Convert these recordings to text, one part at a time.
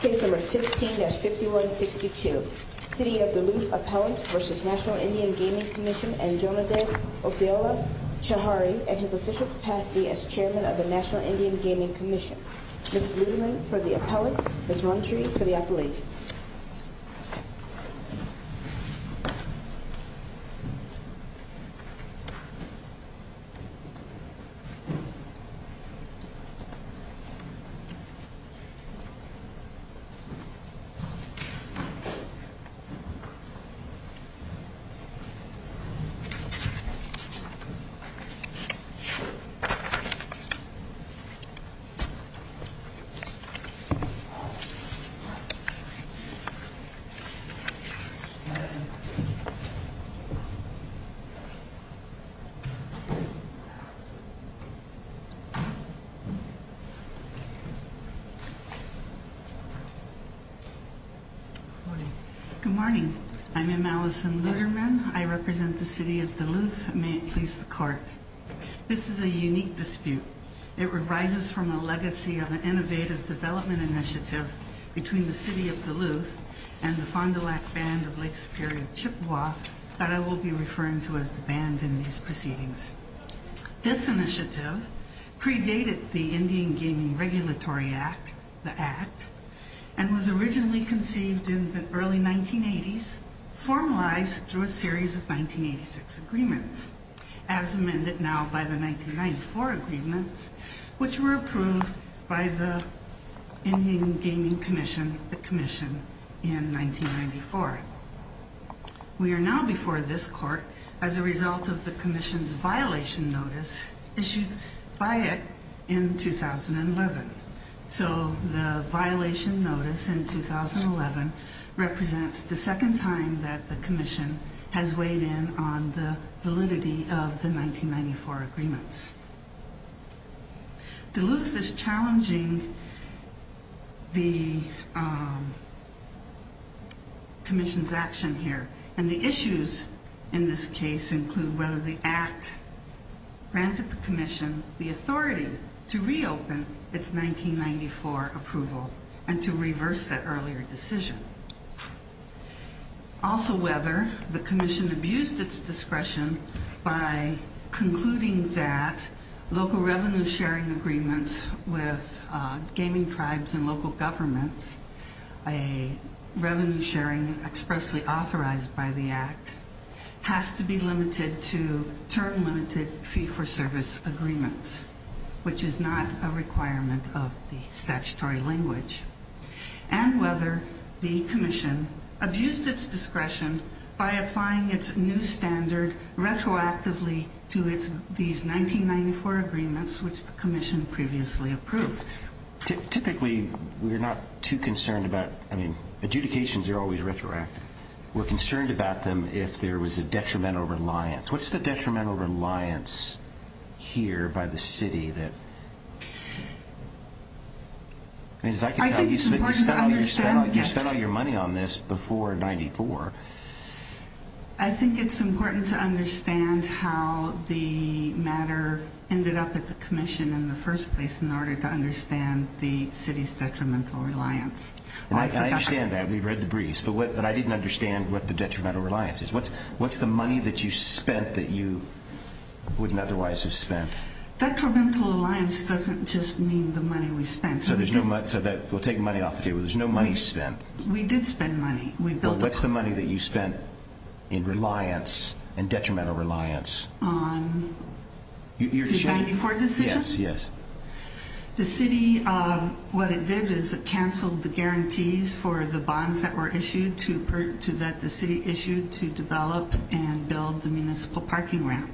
Case No. 15-5162, City of Duluth Appellant v. Natl. Indian Gaming Commission and Jonadav Oseola Chahari at his official capacity as Chairman of the Natl. Indian Gaming Commission. Ms. Luderman for the Appellant, Ms. Runtree for the Appellate. Ms. Runtree for the Appellate. Good morning. I'm M. Allison Luderman. I represent the City of Duluth. May it please the Court. This is a unique dispute. It arises from a legacy of an innovative development initiative between the City of Duluth and the Fond du Lac Band of Lake Superior Chippewa that I will be referring to as the band in these proceedings. This initiative predated the Indian Gaming Regulatory Act, the Act, and was originally conceived in the early 1980s, formalized through a series of 1986 agreements, as amended now by the 1994 agreements, which were approved by the Indian Gaming Commission, the Commission, in 1994. We are now before this Court as a result of the Commission's violation notice issued by it in 2011. So the violation notice in 2011 represents the second time that the Commission has weighed in on the validity of the 1994 agreements. Duluth is challenging the Commission's action here, and the issues in this case include whether the Act granted the Commission the authority to reopen its 1994 approval and to reverse that earlier decision. Also whether the Commission abused its discretion by concluding that local revenue-sharing agreements with gaming tribes and local governments, a revenue-sharing expressly authorized by the Act, has to be limited to term-limited fee-for-service agreements, which is not a requirement of the statutory language. And whether the Commission abused its discretion by applying its new standard retroactively to these 1994 agreements, which the Commission previously approved. Typically, we're not too concerned about... I mean, adjudications are always retroactive. We're concerned about them if there was a detrimental reliance. What's the detrimental reliance here by the City that... As I can tell you, you spent all your money on this before 1994. I think it's important to understand how the matter ended up at the Commission in the first place in order to understand the City's detrimental reliance. I understand that. We've read the briefs. But I didn't understand what the detrimental reliance is. What's the money that you spent that you wouldn't otherwise have spent? Detrimental reliance doesn't just mean the money we spent. So we'll take money off the table. There's no money spent. We did spend money. What's the money that you spent in reliance and detrimental reliance? On the 1994 decision? Yes, yes. The City, what it did is it canceled the guarantees for the bonds that were issued so that the City issued to develop and build the municipal parking ramp.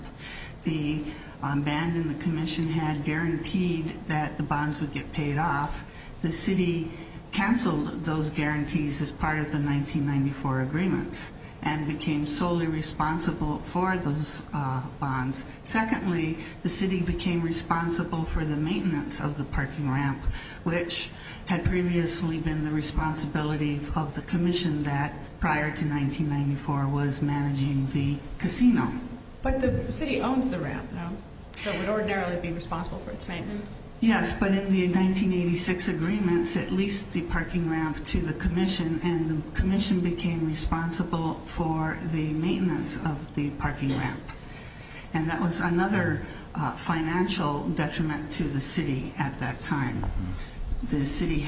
The band and the Commission had guaranteed that the bonds would get paid off. The City canceled those guarantees as part of the 1994 agreements and became solely responsible for those bonds. Secondly, the City became responsible for the maintenance of the parking ramp, which had previously been the responsibility of the Commission that prior to 1994 was managing the casino. But the City owns the ramp, no? So it would ordinarily be responsible for its maintenance? Yes, but in the 1986 agreements it leased the parking ramp to the Commission and the Commission became responsible for the maintenance of the parking ramp. And that was another financial detriment to the City at that time. The City,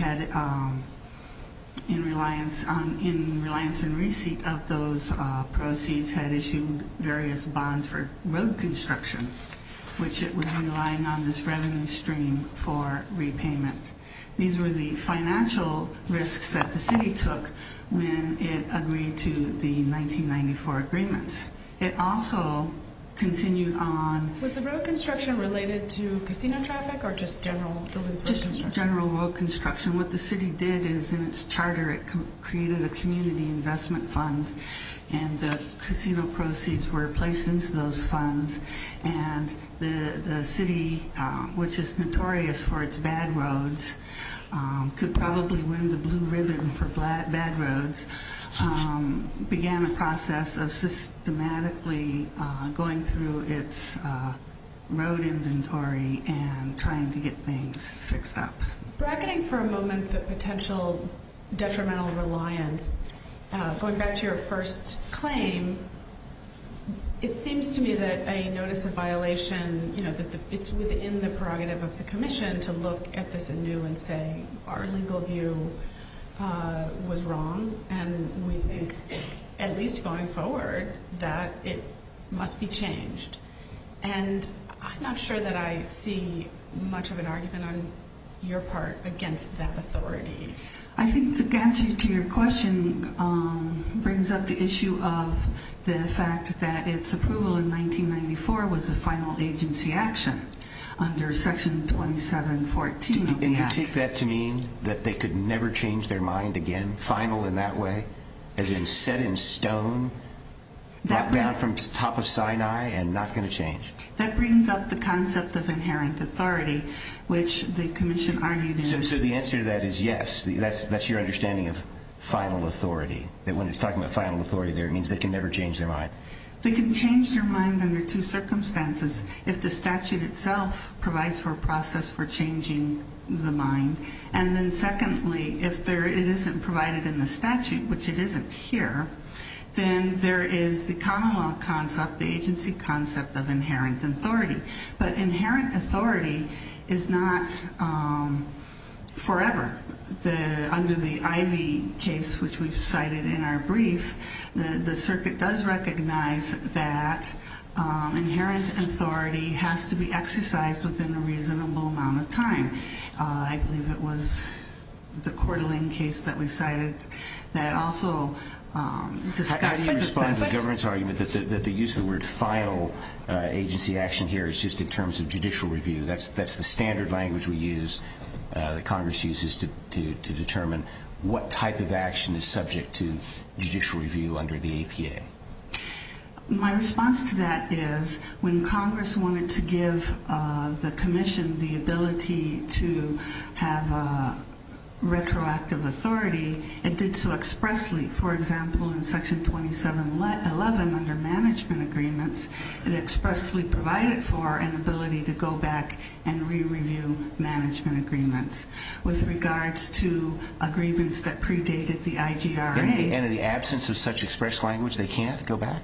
in reliance and receipt of those proceeds, had issued various bonds for road construction, which it was relying on this revenue stream for repayment. These were the financial risks that the City took when it agreed to the 1994 agreements. Was the road construction related to casino traffic or just general road construction? Just general road construction. What the City did is in its charter it created a community investment fund and the casino proceeds were placed into those funds. And the City, which is notorious for its bad roads, could probably win the blue ribbon for bad roads, began a process of systematically going through its road inventory and trying to get things fixed up. Bracketing for a moment the potential detrimental reliance, going back to your first claim, it seems to me that a notice of violation is within the prerogative of the Commission to look at this anew and say, our legal view was wrong and we think, at least going forward, that it must be changed. And I'm not sure that I see much of an argument on your part against that authority. I think the answer to your question brings up the issue of the fact that its approval in 1994 was a final agency action under Section 2714 of the Act. Do you take that to mean that they could never change their mind again, final in that way, as in set in stone, not bound from the top of Sinai, and not going to change? That brings up the concept of inherent authority, which the Commission argued is... So the answer to that is yes, that's your understanding of final authority, that when it's talking about final authority there it means they can never change their mind. They can change their mind under two circumstances. If the statute itself provides for a process for changing the mind, and then secondly, if it isn't provided in the statute, which it isn't here, then there is the common law concept, the agency concept of inherent authority. But inherent authority is not forever. Under the Ivey case, which we cited in our brief, the circuit does recognize that inherent authority has to be exercised within a reasonable amount of time. I believe it was the Coeur d'Alene case that we cited that also discussed... How do you respond to the government's argument that the use of the word final agency action here is just in terms of judicial review? That's the standard language we use, that Congress uses, to determine what type of action is subject to judicial review under the APA. My response to that is, when Congress wanted to give the Commission the ability to have retroactive authority, it did so expressly. For example, in Section 2711 under management agreements, it expressly provided for an ability to go back and re-review management agreements. With regards to agreements that predated the IGRA... And in the absence of such expressed language, they can't go back?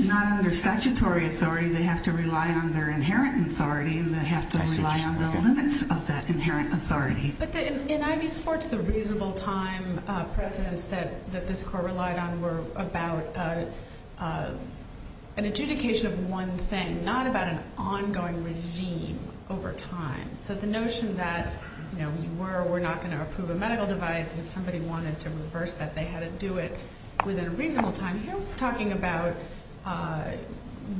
Not under statutory authority. They have to rely on their inherent authority, and they have to rely on the limits of that inherent authority. But in IV sports, the reasonable time precedents that this Court relied on were about an adjudication of one thing, not about an ongoing regime over time. So the notion that you were or were not going to approve a medical device, and if somebody wanted to reverse that, they had to do it within a reasonable time. Here we're talking about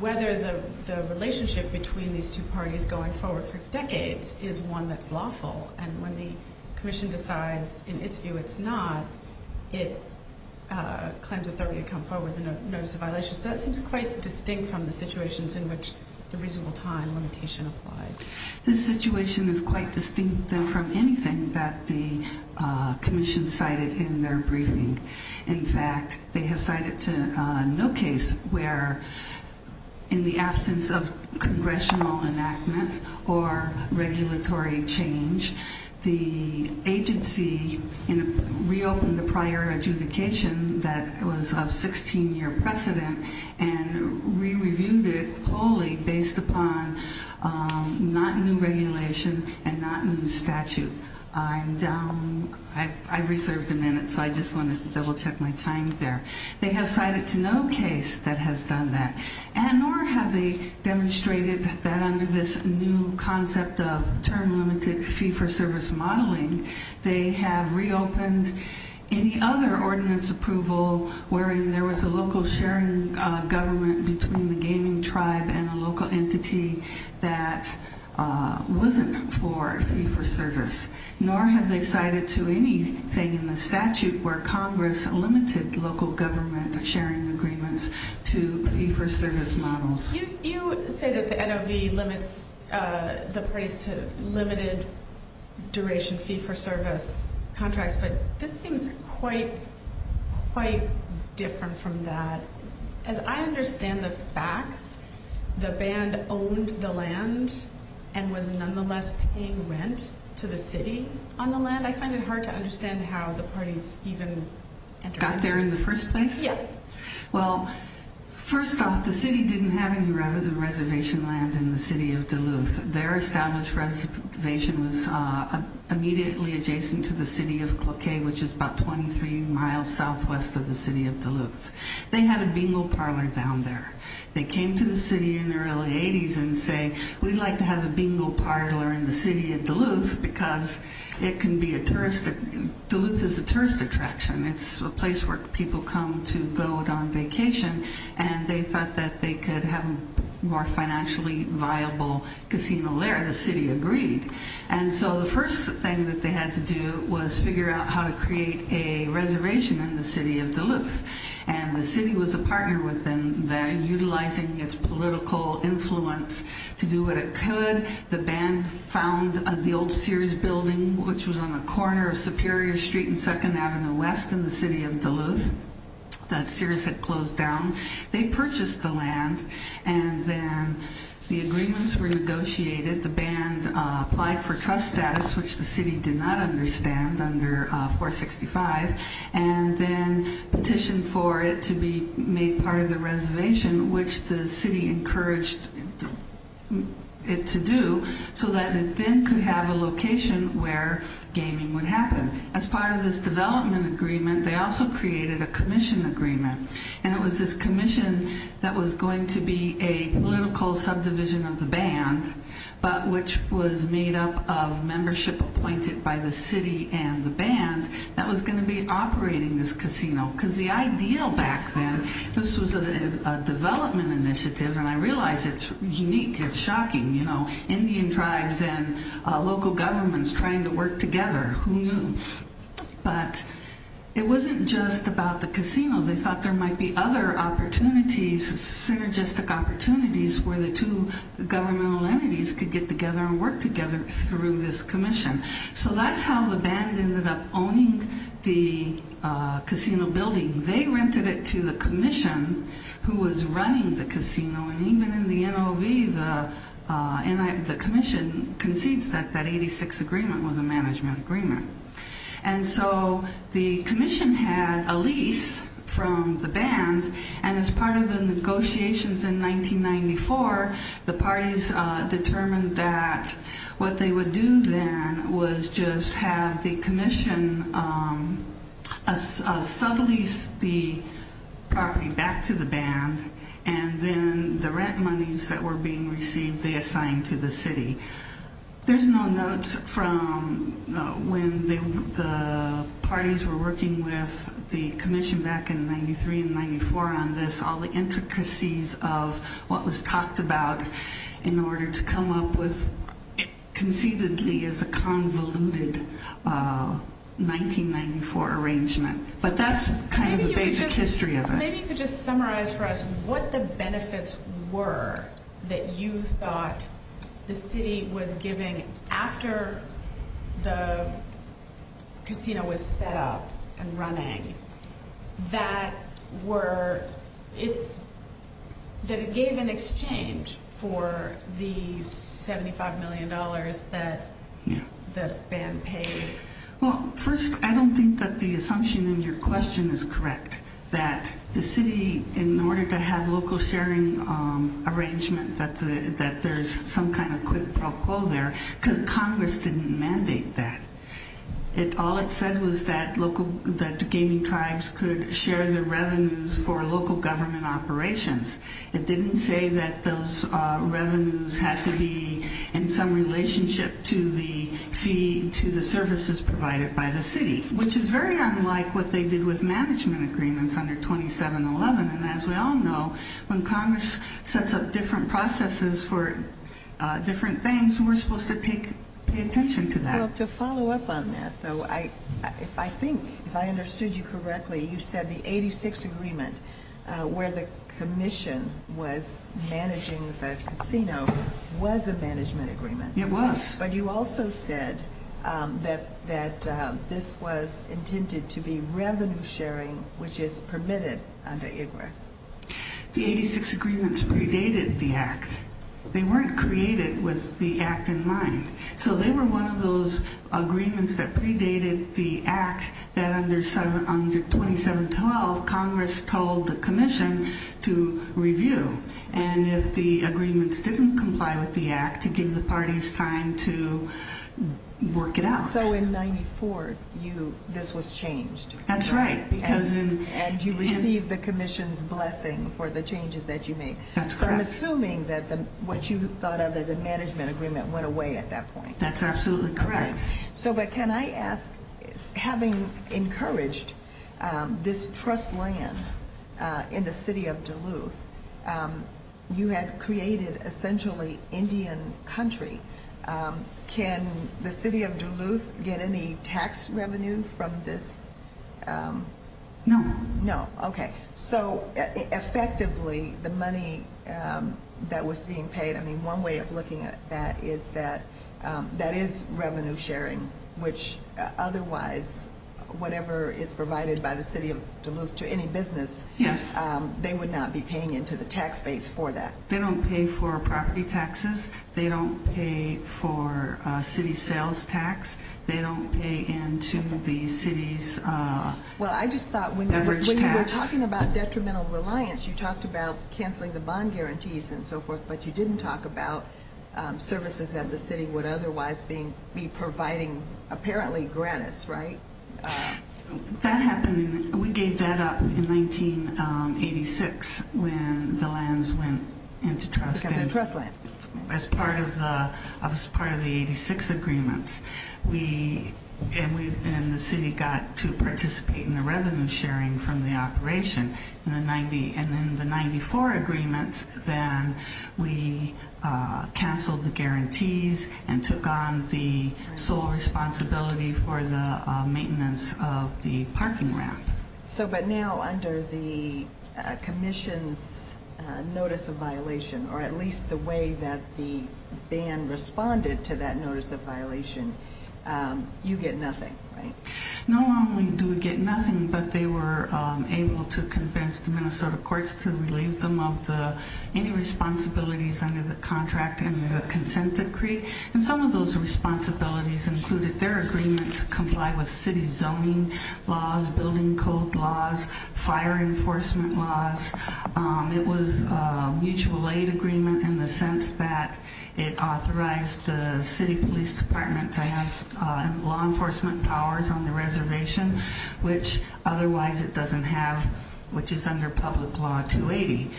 whether the relationship between these two parties going forward for decades is one that's lawful. And when the Commission decides in its view it's not, it claims authority to come forward with a notice of violation. So that seems quite distinct from the situations in which the reasonable time limitation applies. This situation is quite distinct than from anything that the Commission cited in their briefing. In fact, they have cited no case where, in the absence of congressional enactment or regulatory change, the agency reopened the prior adjudication that was of 16-year precedent and re-reviewed it wholly based upon not new regulation and not new statute. I reserved a minute, so I just wanted to double-check my time there. They have cited to no case that has done that, and nor have they demonstrated that under this new concept of term-limited fee-for-service modeling, they have reopened any other ordinance approval where there was a local sharing government between the gaming tribe and a local entity that wasn't for fee-for-service. Nor have they cited to anything in the statute where Congress limited local government sharing agreements to fee-for-service models. You say that the NOV limits the parties to limited duration fee-for-service contracts, but this seems quite different from that. As I understand the facts, the band owned the land and was nonetheless paying rent to the city on the land. I find it hard to understand how the parties even got there in the first place. First off, the city didn't have any reservation land in the city of Duluth. Their established reservation was immediately adjacent to the city of Cloquet, which is about 23 miles southwest of the city of Duluth. They had a bingo parlor down there. They came to the city in the early 80s and said, we'd like to have a bingo parlor in the city of Duluth because Duluth is a tourist attraction. It's a place where people come to go on vacation, and they thought that they could have a more financially viable casino there, and the city agreed. The first thing that they had to do was figure out how to create a reservation in the city of Duluth. The city was a partner with them in utilizing its political influence to do what it could. The band found the old Sears building, which was on a corner of Superior Street and 2nd Avenue West in the city of Duluth. That Sears had closed down. They purchased the land, and then the agreements were negotiated. The band applied for trust status, which the city did not understand under 465, and then petitioned for it to be made part of the reservation, which the city encouraged it to do so that it then could have a location where gaming would happen. As part of this development agreement, they also created a commission agreement, and it was this commission that was going to be a political subdivision of the band, but which was made up of membership appointed by the city and the band that was going to be operating this casino. Because the ideal back then, this was a development initiative, and I realize it's unique. It's shocking. Indian tribes and local governments trying to work together. But it wasn't just about the casino. They thought there might be other opportunities, synergistic opportunities, where the two governmental entities could get together and work together through this commission. So that's how the band ended up owning the casino building. They rented it to the commission, who was running the casino, and even in the NOV, the commission concedes that that 86 agreement was a management agreement. And so the commission had a lease from the band, and as part of the negotiations in 1994, the parties determined that what they would do then was just have the commission sublease the property back to the band, and then the rent monies that were being received, they assigned to the city. There's no notes from when the parties were working with the commission back in 1993 and 1994 on this, all the intricacies of what was talked about in order to come up with, conceivably, as a convoluted 1994 arrangement. But that's kind of the basic history of it. Maybe you could just summarize for us what the benefits were that you thought the city was giving after the casino was set up and running, that it gave in exchange for the $75 million that the band paid. Well, first, I don't think that the assumption in your question is correct, that the city, in order to have local sharing arrangement, that there's some kind of quid pro quo there, because Congress didn't mandate that. All it said was that gaming tribes could share the revenues for local government operations. It didn't say that those revenues had to be in some relationship to the services provided by the city, which is very unlike what they did with management agreements under 2711. And as we all know, when Congress sets up different processes for different things, we're supposed to take attention to that. Well, to follow up on that, though, if I think, if I understood you correctly, you said the 86 Agreement, where the commission was managing the casino, was a management agreement. It was. But you also said that this was intended to be revenue sharing, which is permitted under IGRA. The 86 Agreement predated the Act. They weren't created with the Act in mind. So they were one of those agreements that predated the Act that under 2712, Congress told the commission to review. And if the agreements didn't comply with the Act, it gives the parties time to work it out. So in 94, this was changed. That's right. And you received the commission's blessing for the changes that you made. That's correct. Assuming that what you thought of as a management agreement went away at that point. That's absolutely correct. But can I ask, having encouraged this trust land in the city of Duluth, you had created essentially Indian country. Can the city of Duluth get any tax revenue from this? No. No. Okay. So effectively, the money that was being paid, I mean, one way of looking at that is that that is revenue sharing, which otherwise, whatever is provided by the city of Duluth to any business, they would not be paying into the tax base for that. They don't pay for property taxes. They don't pay for city sales tax. They don't pay into the city's beverage tax. Well, I just thought when you were talking about detrimental reliance, you talked about canceling the bond guarantees and so forth, but you didn't talk about services that the city would otherwise be providing apparently gratis, right? That happened, we gave that up in 1986 when the lands went into trust. Because they're trust lands. As part of the 86 agreements, we and the city got to participate in the revenue sharing from the operation. And in the 94 agreements, then we canceled the guarantees and took on the sole responsibility for the maintenance of the parking ramp. So but now under the commission's notice of violation, or at least the way that the band responded to that notice of violation, you get nothing, right? Not only do we get nothing, but they were able to convince the Minnesota courts to relieve them of any responsibilities under the contract and the consent decree. And some of those responsibilities included their agreement to comply with city zoning laws, building code laws, fire enforcement laws. It was a mutual aid agreement in the sense that it authorized the city police department to have law enforcement powers on the reservation, which otherwise it doesn't have, which is under public law 280.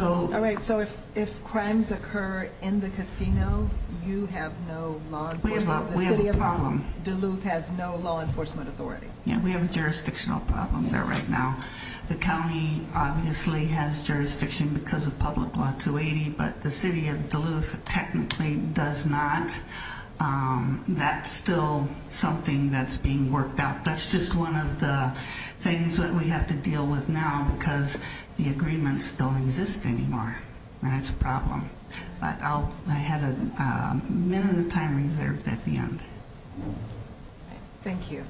All right, so if crimes occur in the casino, you have no law enforcement. We have a problem. Duluth has no law enforcement authority. Yeah, we have a jurisdictional problem there right now. The county obviously has jurisdiction because of public law 280, but the city of Duluth technically does not. That's still something that's being worked out. That's just one of the things that we have to deal with now because the agreements don't exist anymore, and that's a problem. I have a minute of time reserved at the end. Thank you. Thank you.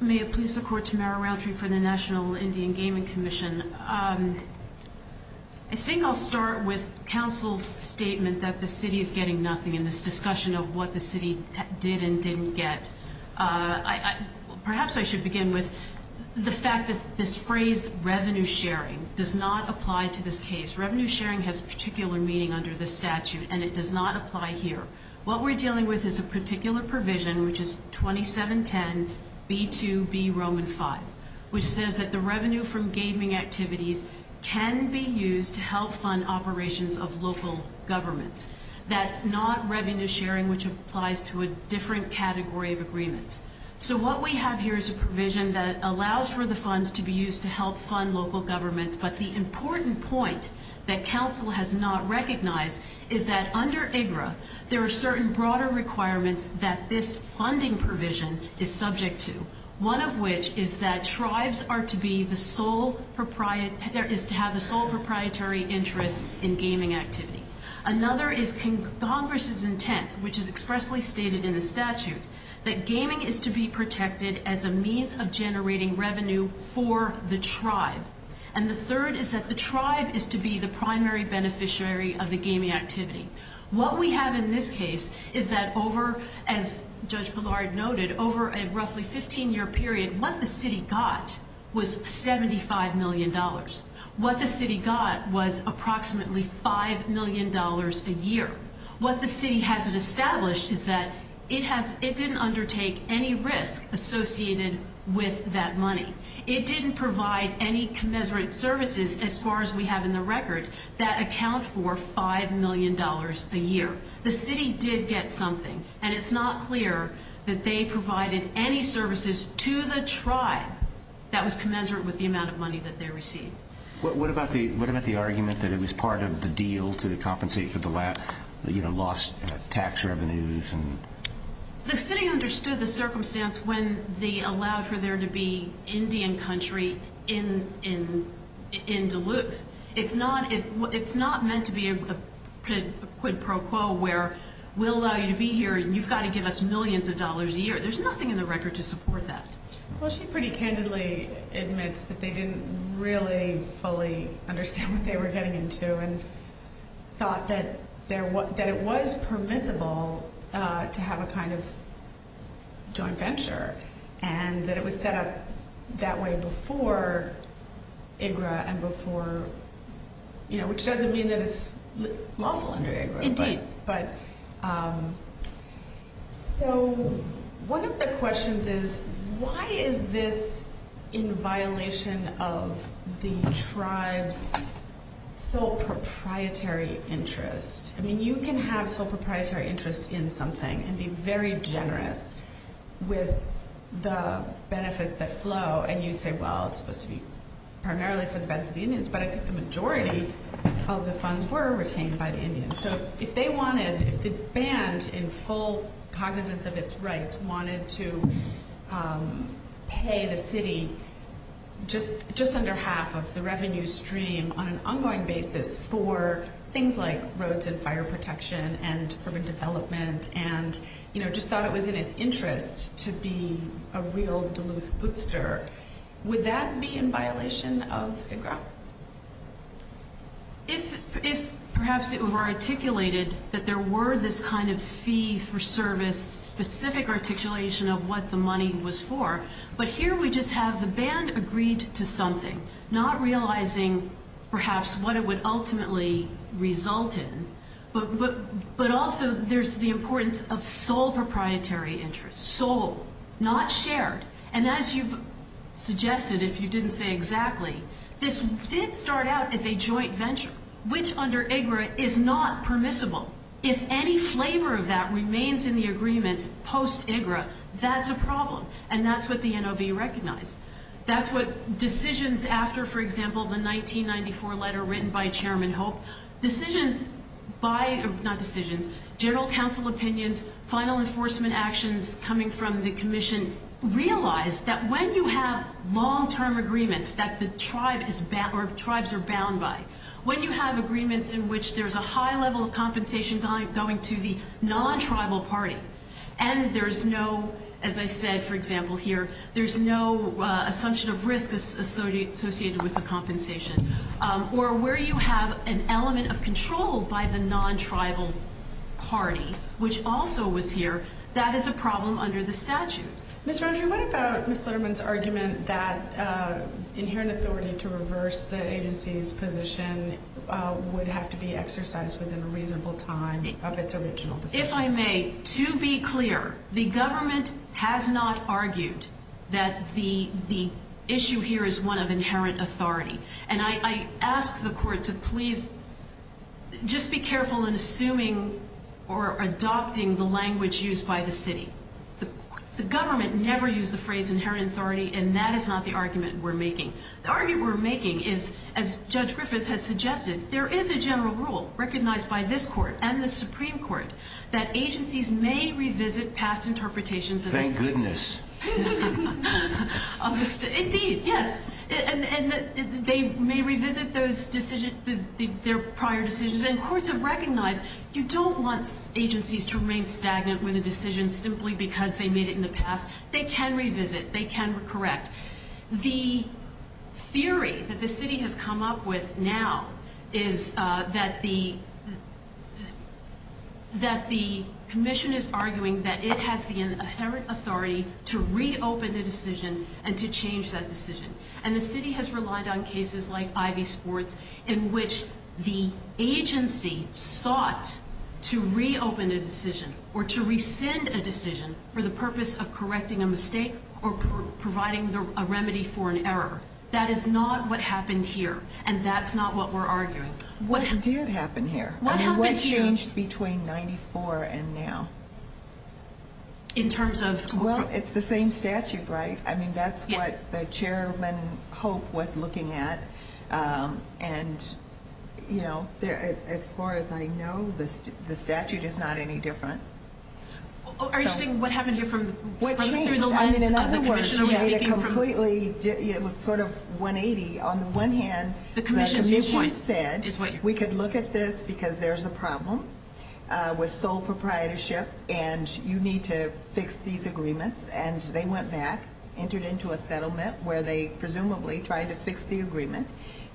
May it please the court, Tamara Rountree for the National Indian Gaming Commission. I think I'll start with counsel's statement that the city is getting nothing in this discussion of what the city did and didn't get. Perhaps I should begin with the fact that this phrase revenue sharing does not apply to this case. Revenue sharing has particular meaning under this statute, and it does not apply here. What we're dealing with is a particular provision, which is 2710 B2B Roman 5, which says that the revenue from gaming activities can be used to help fund operations of local governments. That's not revenue sharing, which applies to a different category of agreements. So what we have here is a provision that allows for the funds to be used to help fund local governments, but the important point that counsel has not recognized is that under IGRA, there are certain broader requirements that this funding provision is subject to, one of which is that tribes are to have the sole proprietary interest in gaming activity. Another is Congress's intent, which is expressly stated in the statute, that gaming is to be protected as a means of generating revenue for the tribe. And the third is that the tribe is to be the primary beneficiary of the gaming activity. What we have in this case is that over, as Judge Bellard noted, over a roughly 15-year period, what the city got was $75 million. What the city got was approximately $5 million a year. What the city hasn't established is that it didn't undertake any risk associated with that money. It didn't provide any commensurate services, as far as we have in the record, that account for $5 million a year. The city did get something, and it's not clear that they provided any services to the tribe that was commensurate with the amount of money that they received. What about the argument that it was part of the deal to compensate for the lost tax revenues? The city understood the circumstance when they allowed for there to be Indian country in Duluth. It's not meant to be a quid pro quo where we'll allow you to be here, and you've got to give us millions of dollars a year. There's nothing in the record to support that. Well, she pretty candidly admits that they didn't really fully understand what they were getting into and thought that it was permissible to have a kind of joint venture and that it was set up that way before IGRA and before, you know, which doesn't mean that it's lawful under IGRA. Indeed. So one of the questions is, why is this in violation of the tribe's sole proprietary interest? I mean, you can have sole proprietary interest in something and be very generous with the benefits that flow, and you say, well, it's supposed to be primarily for the benefit of the Indians, but I think the majority of the funds were retained by the Indians. So if they wanted, if the band, in full cognizance of its rights, wanted to pay the city just under half of the revenue stream on an ongoing basis for things like roads and fire protection and urban development and, you know, just thought it was in its interest to be a real Duluth bootster, would that be in violation of IGRA? If perhaps it were articulated that there were this kind of fee for service specific articulation of what the money was for, but here we just have the band agreed to something, not realizing perhaps what it would ultimately result in, but also there's the importance of sole proprietary interest, sole, not shared. And as you've suggested, if you didn't say exactly, this did start out as a joint venture, which under IGRA is not permissible. If any flavor of that remains in the agreement post-IGRA, that's a problem, and that's what the NOB recognized. That's what decisions after, for example, the 1994 letter written by Chairman Hope, decisions by, not decisions, general counsel opinions, final enforcement actions coming from the commission, realize that when you have long-term agreements that the tribe is bound, or tribes are bound by, when you have agreements in which there's a high level of compensation going to the non-tribal party, and there's no, as I said, for example, here, there's no assumption of risk associated with the compensation, or where you have an element of control by the non-tribal party, which also was here, that is a problem under the statute. Ms. Rundry, what about Ms. Litterman's argument that inherent authority to reverse the agency's position would have to be exercised within a reasonable time of its original decision? If I may, to be clear, the government has not argued that the issue here is one of inherent authority, and I ask the court to please just be careful in assuming or adopting the language used by the city. The government never used the phrase inherent authority, and that is not the argument we're making. The argument we're making is, as Judge Griffith has suggested, there is a general rule recognized by this court and the Supreme Court that agencies may revisit past interpretations of the statute. Thank goodness. Indeed, yes. And they may revisit their prior decisions, and courts have recognized you don't want agencies to remain stagnant with a decision simply because they made it in the past. They can revisit. They can correct. The theory that the city has come up with now is that the commission is arguing that it has the inherent authority to reopen a decision and to change that decision, and the city has relied on cases like Ivy Sports in which the agency sought to reopen a decision or to rescind a decision for the purpose of correcting a mistake or providing a remedy for an error. That is not what happened here, and that's not what we're arguing. What did happen here? What happened here? What changed between 94 and now? In terms of? Well, it's the same statute, right? I mean, that's what the chairman, Hope, was looking at, and, you know, as far as I know, the statute is not any different. Are you saying what happened here from the lines of the commission? It was sort of 180. On the one hand, the commission said we could look at this because there's a problem with sole proprietorship and you need to fix these agreements, and they went back, entered into a settlement where they presumably tried to fix the agreement,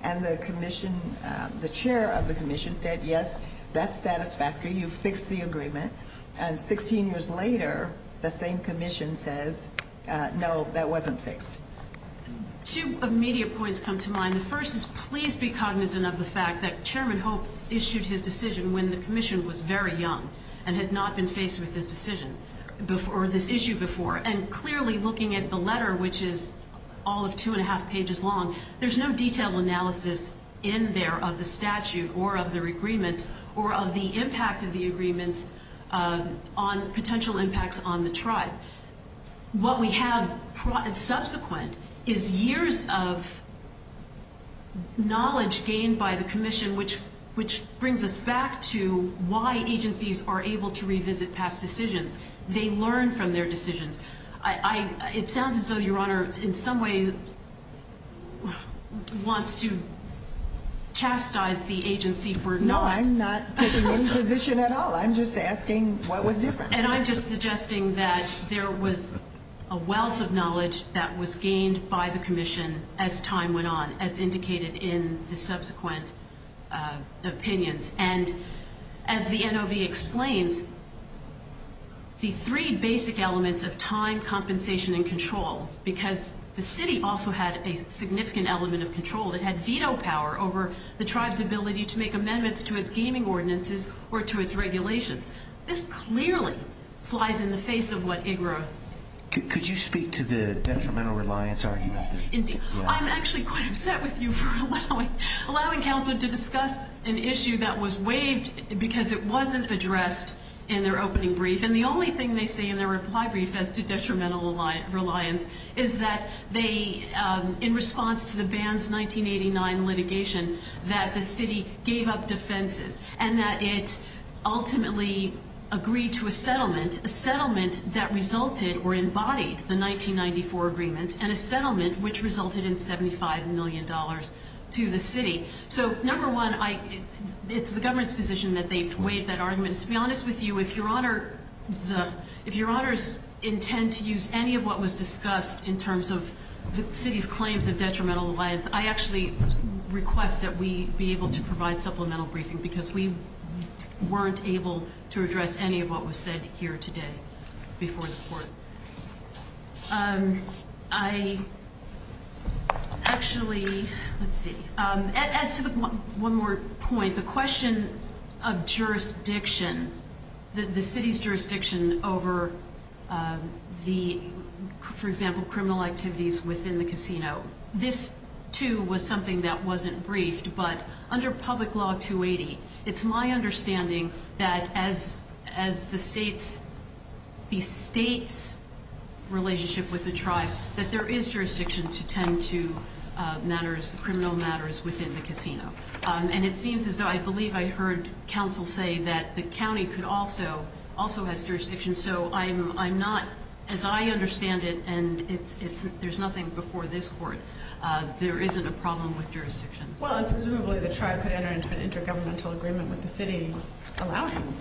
and the chair of the commission said, yes, that's satisfactory. You fixed the agreement, and 16 years later, the same commission says, no, that wasn't fixed. Two immediate points come to mind. The first is please be cognizant of the fact that Chairman Hope issued his decision when the commission was very young and had not been faced with this issue before, and clearly looking at the letter, which is all of 2 1⁄2 pages long, there's no detailed analysis in there of the statute or of their agreements or of the impact of the agreements on potential impacts on the tribe. What we have subsequent is years of knowledge gained by the commission, which brings us back to why agencies are able to revisit past decisions. They learn from their decisions. It sounds as though Your Honor in some way wants to chastise the agency for not. No, I'm not taking any position at all. I'm just asking what was different. And I'm just suggesting that there was a wealth of knowledge that was gained by the commission as time went on, as indicated in the subsequent opinions. And as the NOV explains, the three basic elements of time, compensation, and control, because the city also had a significant element of control. It had veto power over the tribe's ability to make amendments to its gaming ordinances or to its regulations. This clearly flies in the face of what IGRA. Could you speak to the detrimental reliance argument? Indeed. I'm actually quite upset with you for allowing counsel to discuss an issue that was waived because it wasn't addressed in their opening brief. And the only thing they say in their reply brief as to detrimental reliance is that they, in response to the ban's 1989 litigation, that the city gave up defenses and that it ultimately agreed to a settlement, a settlement that resulted the 1994 agreements and a settlement which resulted in $75 million to the city. So number one, it's the government's position that they waived that argument. To be honest with you, if Your Honors intend to use any of what was discussed in terms of the city's claims of detrimental reliance, I actually request that we be able to provide supplemental briefing because we weren't able to address any of what was said here today before the court. I actually, let's see, as to one more point, the question of jurisdiction, the city's jurisdiction over the, for example, criminal activities within the casino, this too was something that wasn't briefed. But under public law 280, it's my understanding that as the state's relationship with the tribe, that there is jurisdiction to tend to matters, criminal matters within the casino. And it seems as though I believe I heard counsel say that the county could also, also has jurisdiction. So I'm not, as I understand it, and there's nothing before this court, there isn't a problem with jurisdiction. Well, and presumably the tribe could enter into an intergovernmental agreement with the city, allowing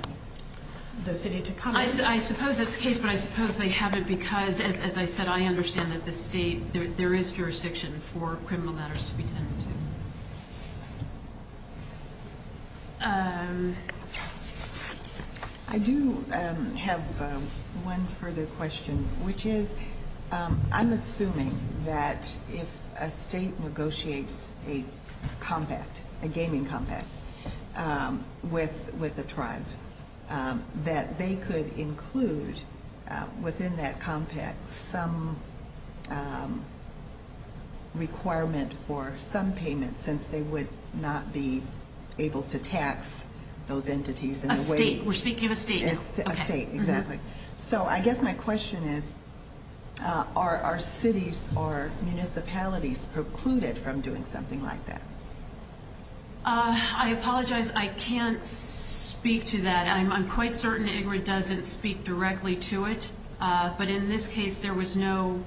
the city to come in. I suppose that's the case, but I suppose they haven't because, as I said, I understand that the state, there is jurisdiction for criminal matters to be tended to. I do have one further question, which is I'm assuming that if a state negotiates a compact, a gaming compact with a tribe, that they could include within that compact some requirement for some payment, since they would not be able to tax those entities in a way. A state, we're speaking of a state now. A state, exactly. So I guess my question is, are cities or municipalities precluded from doing something like that? I apologize, I can't speak to that. I'm quite certain that Ingrid doesn't speak directly to it. But in this case, there was no,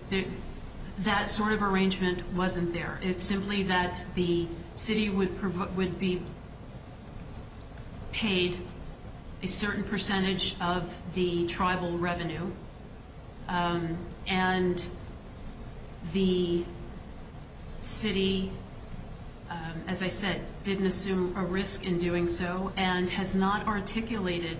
that sort of arrangement wasn't there. It's simply that the city would be paid a certain percentage of the tribal revenue, and the city, as I said, didn't assume a risk in doing so and has not articulated.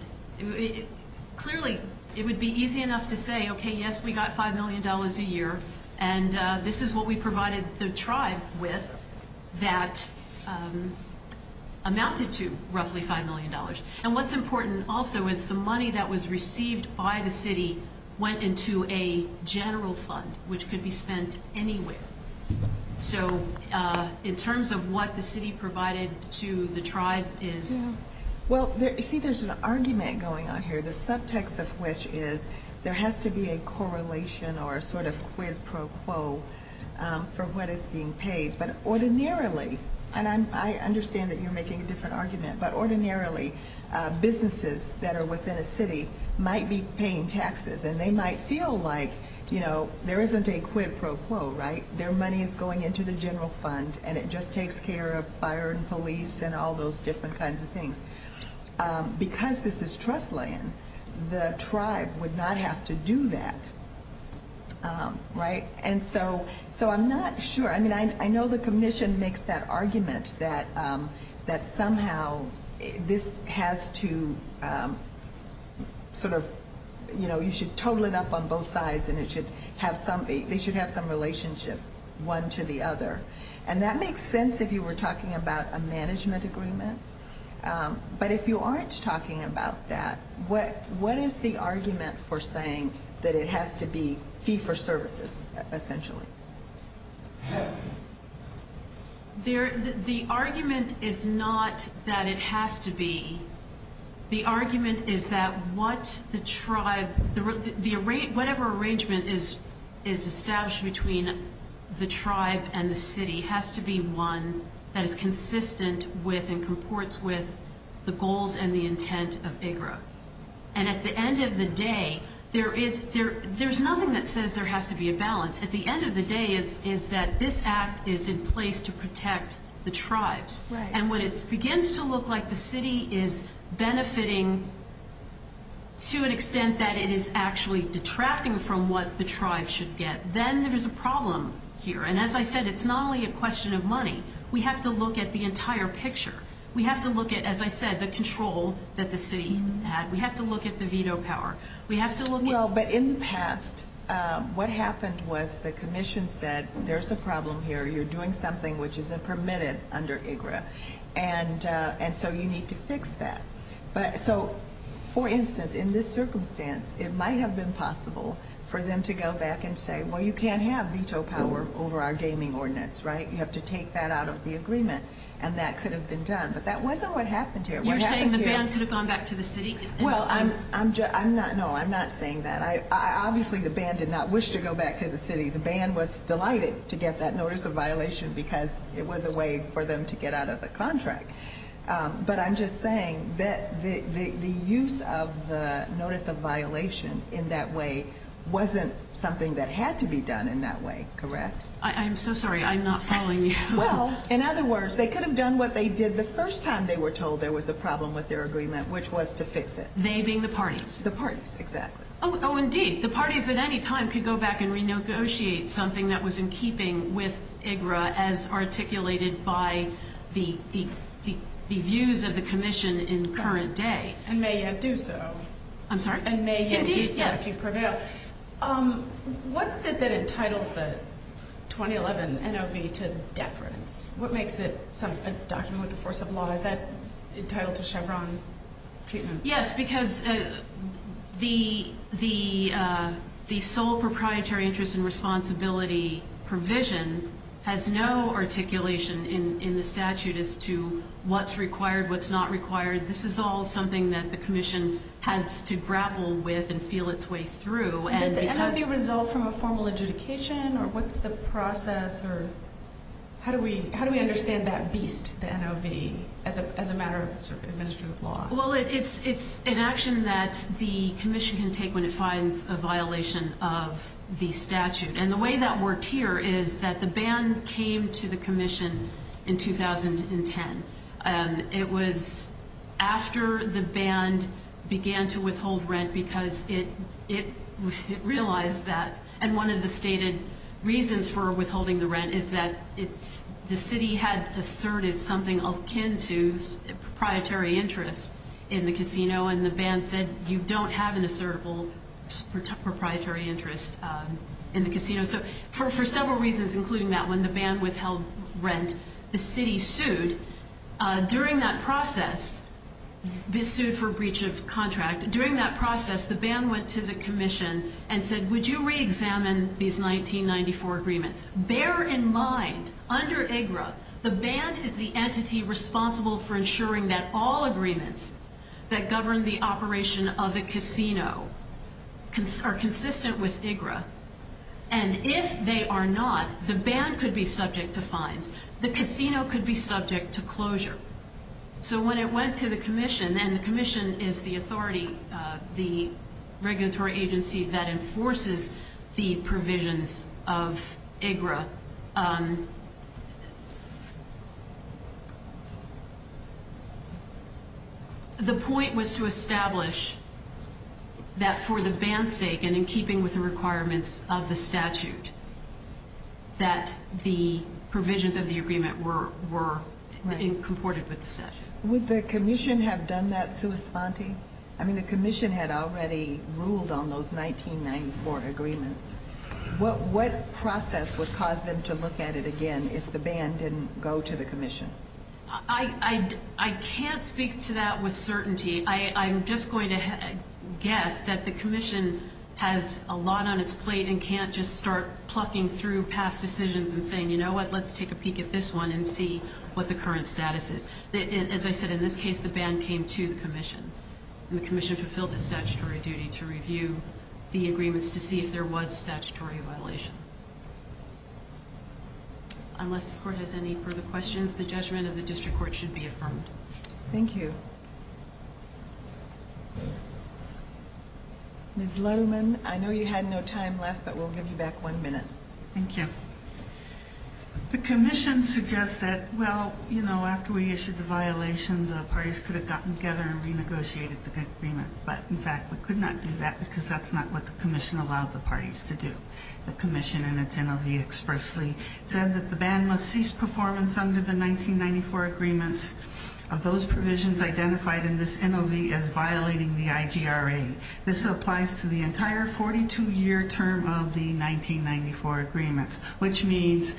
Clearly, it would be easy enough to say, okay, yes, we got $5 million a year, and this is what we provided the tribe with that amounted to roughly $5 million. And what's important also is the money that was received by the city went into a general fund, which could be spent anywhere. So in terms of what the city provided to the tribe is – Well, see, there's an argument going on here, the subtext of which is there has to be a correlation or a sort of quid pro quo for what is being paid. But ordinarily, and I understand that you're making a different argument, but ordinarily businesses that are within a city might be paying taxes, and they might feel like, you know, there isn't a quid pro quo, right? Their money is going into the general fund, and it just takes care of fire and police and all those different kinds of things. Because this is trust land, the tribe would not have to do that, right? And so I'm not sure. I mean, I know the commission makes that argument that somehow this has to sort of – you know, you should total it up on both sides, and they should have some relationship one to the other. And that makes sense if you were talking about a management agreement. But if you aren't talking about that, what is the argument for saying that it has to be fee for services, essentially? The argument is not that it has to be. The argument is that what the tribe – has to be one that is consistent with and comports with the goals and the intent of IGRA. And at the end of the day, there is – there's nothing that says there has to be a balance. At the end of the day is that this act is in place to protect the tribes. And when it begins to look like the city is benefiting to an extent that it is actually detracting from what the tribe should get, then there is a problem here. And as I said, it's not only a question of money. We have to look at the entire picture. We have to look at, as I said, the control that the city had. We have to look at the veto power. We have to look at – Well, but in the past, what happened was the commission said there's a problem here. You're doing something which isn't permitted under IGRA. And so you need to fix that. So, for instance, in this circumstance, it might have been possible for them to go back and say, well, you can't have veto power over our gaming ordinance, right? You have to take that out of the agreement. And that could have been done. But that wasn't what happened here. You're saying the ban could have gone back to the city? Well, I'm not – no, I'm not saying that. Obviously, the ban did not wish to go back to the city. The ban was delighted to get that notice of violation because it was a way for them to get out of the contract. But I'm just saying that the use of the notice of violation in that way wasn't something that had to be done in that way, correct? I'm so sorry. I'm not following you. Well, in other words, they could have done what they did the first time they were told there was a problem with their agreement, which was to fix it. They being the parties? The parties, exactly. Oh, indeed. The parties at any time could go back and renegotiate something that was in keeping with IGRA as articulated by the views of the commission in current day. And may yet do so. I'm sorry? And may yet do so. Indeed, yes. To prevail. What is it that entitles the 2011 NOV to deference? What makes it a document with the force of law? Is that entitled to Chevron treatment? Yes, because the sole proprietary interest and responsibility provision has no articulation in the statute as to what's required, what's not required. This is all something that the commission has to grapple with and feel its way through. Does the NOV result from a formal adjudication, or what's the process, or how do we understand that beast, the NOV, as a matter of administrative law? Well, it's an action that the commission can take when it finds a violation of the statute. And the way that worked here is that the ban came to the commission in 2010. It was after the ban began to withhold rent because it realized that, and one of the stated reasons for withholding the rent is that the city had asserted something akin to proprietary interest in the casino, and the ban said you don't have an assertible proprietary interest in the casino. So for several reasons, including that, when the ban withheld rent, the city sued. During that process, it sued for breach of contract. During that process, the ban went to the commission and said, would you reexamine these 1994 agreements? Bear in mind, under IGRA, the ban is the entity responsible for ensuring that all agreements that govern the operation of the casino are consistent with IGRA. And if they are not, the ban could be subject to fines. The casino could be subject to closure. So when it went to the commission, and the commission is the authority, the regulatory agency that enforces the provisions of IGRA, the point was to establish that for the ban's sake and in keeping with the requirements of the statute, that the provisions of the agreement were in accord with the statute. Would the commission have done that sui santi? I mean, the commission had already ruled on those 1994 agreements. What process would cause them to look at it again if the ban didn't go to the commission? I can't speak to that with certainty. I'm just going to guess that the commission has a lot on its plate and can't just start plucking through past decisions and saying, you know what, let's take a peek at this one and see what the current status is. As I said, in this case, the ban came to the commission, and the commission fulfilled its statutory duty to review the agreements to see if there was a statutory violation. Unless this court has any further questions, the judgment of the district court should be affirmed. Thank you. Ms. Laruman, I know you had no time left, but we'll give you back one minute. Thank you. The commission suggests that, well, you know, after we issued the violation, the parties could have gotten together and renegotiated the agreement. But, in fact, we could not do that because that's not what the commission allowed the parties to do. The commission in its interview expressly said that the ban must cease performance under the 1994 agreements. One of those provisions identified in this NOV is violating the IGRA. This applies to the entire 42-year term of the 1994 agreements, which means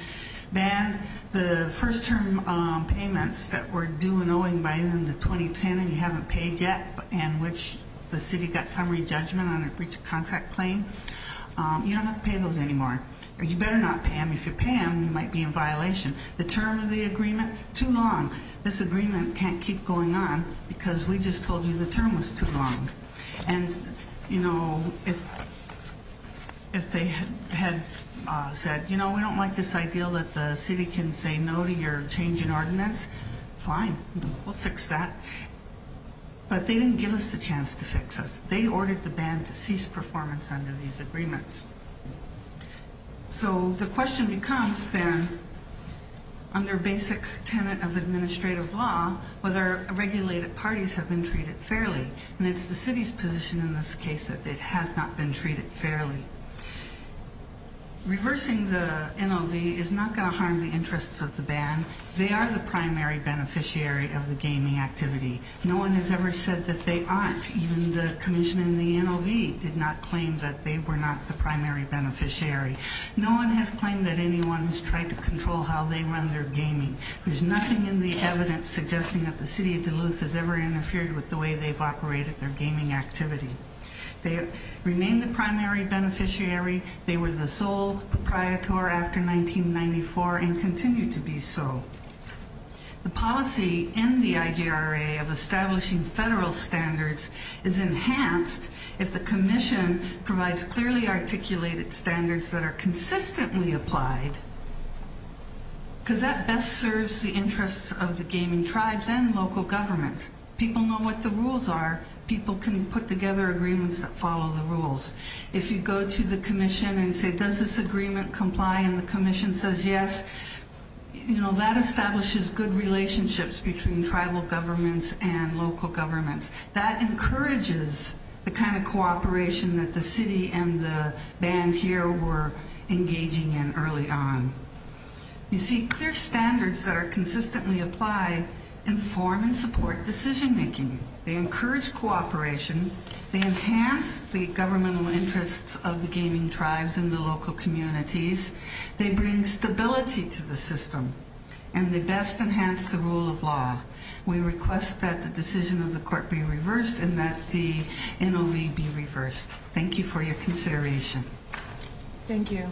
ban the first-term payments that were due and owing by the end of 2010 and you haven't paid yet and which the city got summary judgment on a breach of contract claim. You don't have to pay those anymore. You better not pay them. If you pay them, you might be in violation. The term of the agreement, too long. This agreement can't keep going on because we just told you the term was too long. And, you know, if they had said, you know, we don't like this idea that the city can say no to your change in ordinance, fine. We'll fix that. But they didn't give us a chance to fix us. They ordered the ban to cease performance under these agreements. So the question becomes, then, under basic tenant of administrative law, whether regulated parties have been treated fairly. And it's the city's position in this case that it has not been treated fairly. Reversing the NOV is not going to harm the interests of the ban. They are the primary beneficiary of the gaming activity. No one has ever said that they aren't. Even the commission in the NOV did not claim that they were not the primary beneficiary. No one has claimed that anyone has tried to control how they run their gaming. There's nothing in the evidence suggesting that the city of Duluth has ever interfered with the way they've operated their gaming activity. They remain the primary beneficiary. They were the sole proprietor after 1994 and continue to be so. The policy in the IGRA of establishing federal standards is enhanced if the commission provides clearly articulated standards that are consistently applied because that best serves the interests of the gaming tribes and local governments. People know what the rules are. People can put together agreements that follow the rules. If you go to the commission and say, does this agreement comply? And the commission says yes, that establishes good relationships between tribal governments and local governments. That encourages the kind of cooperation that the city and the band here were engaging in early on. You see, clear standards that consistently apply inform and support decision-making. They encourage cooperation. They enhance the governmental interests of the gaming tribes and the local communities. They bring stability to the system, and they best enhance the rule of law. We request that the decision of the court be reversed and that the NOV be reversed. Thank you for your consideration. Thank you.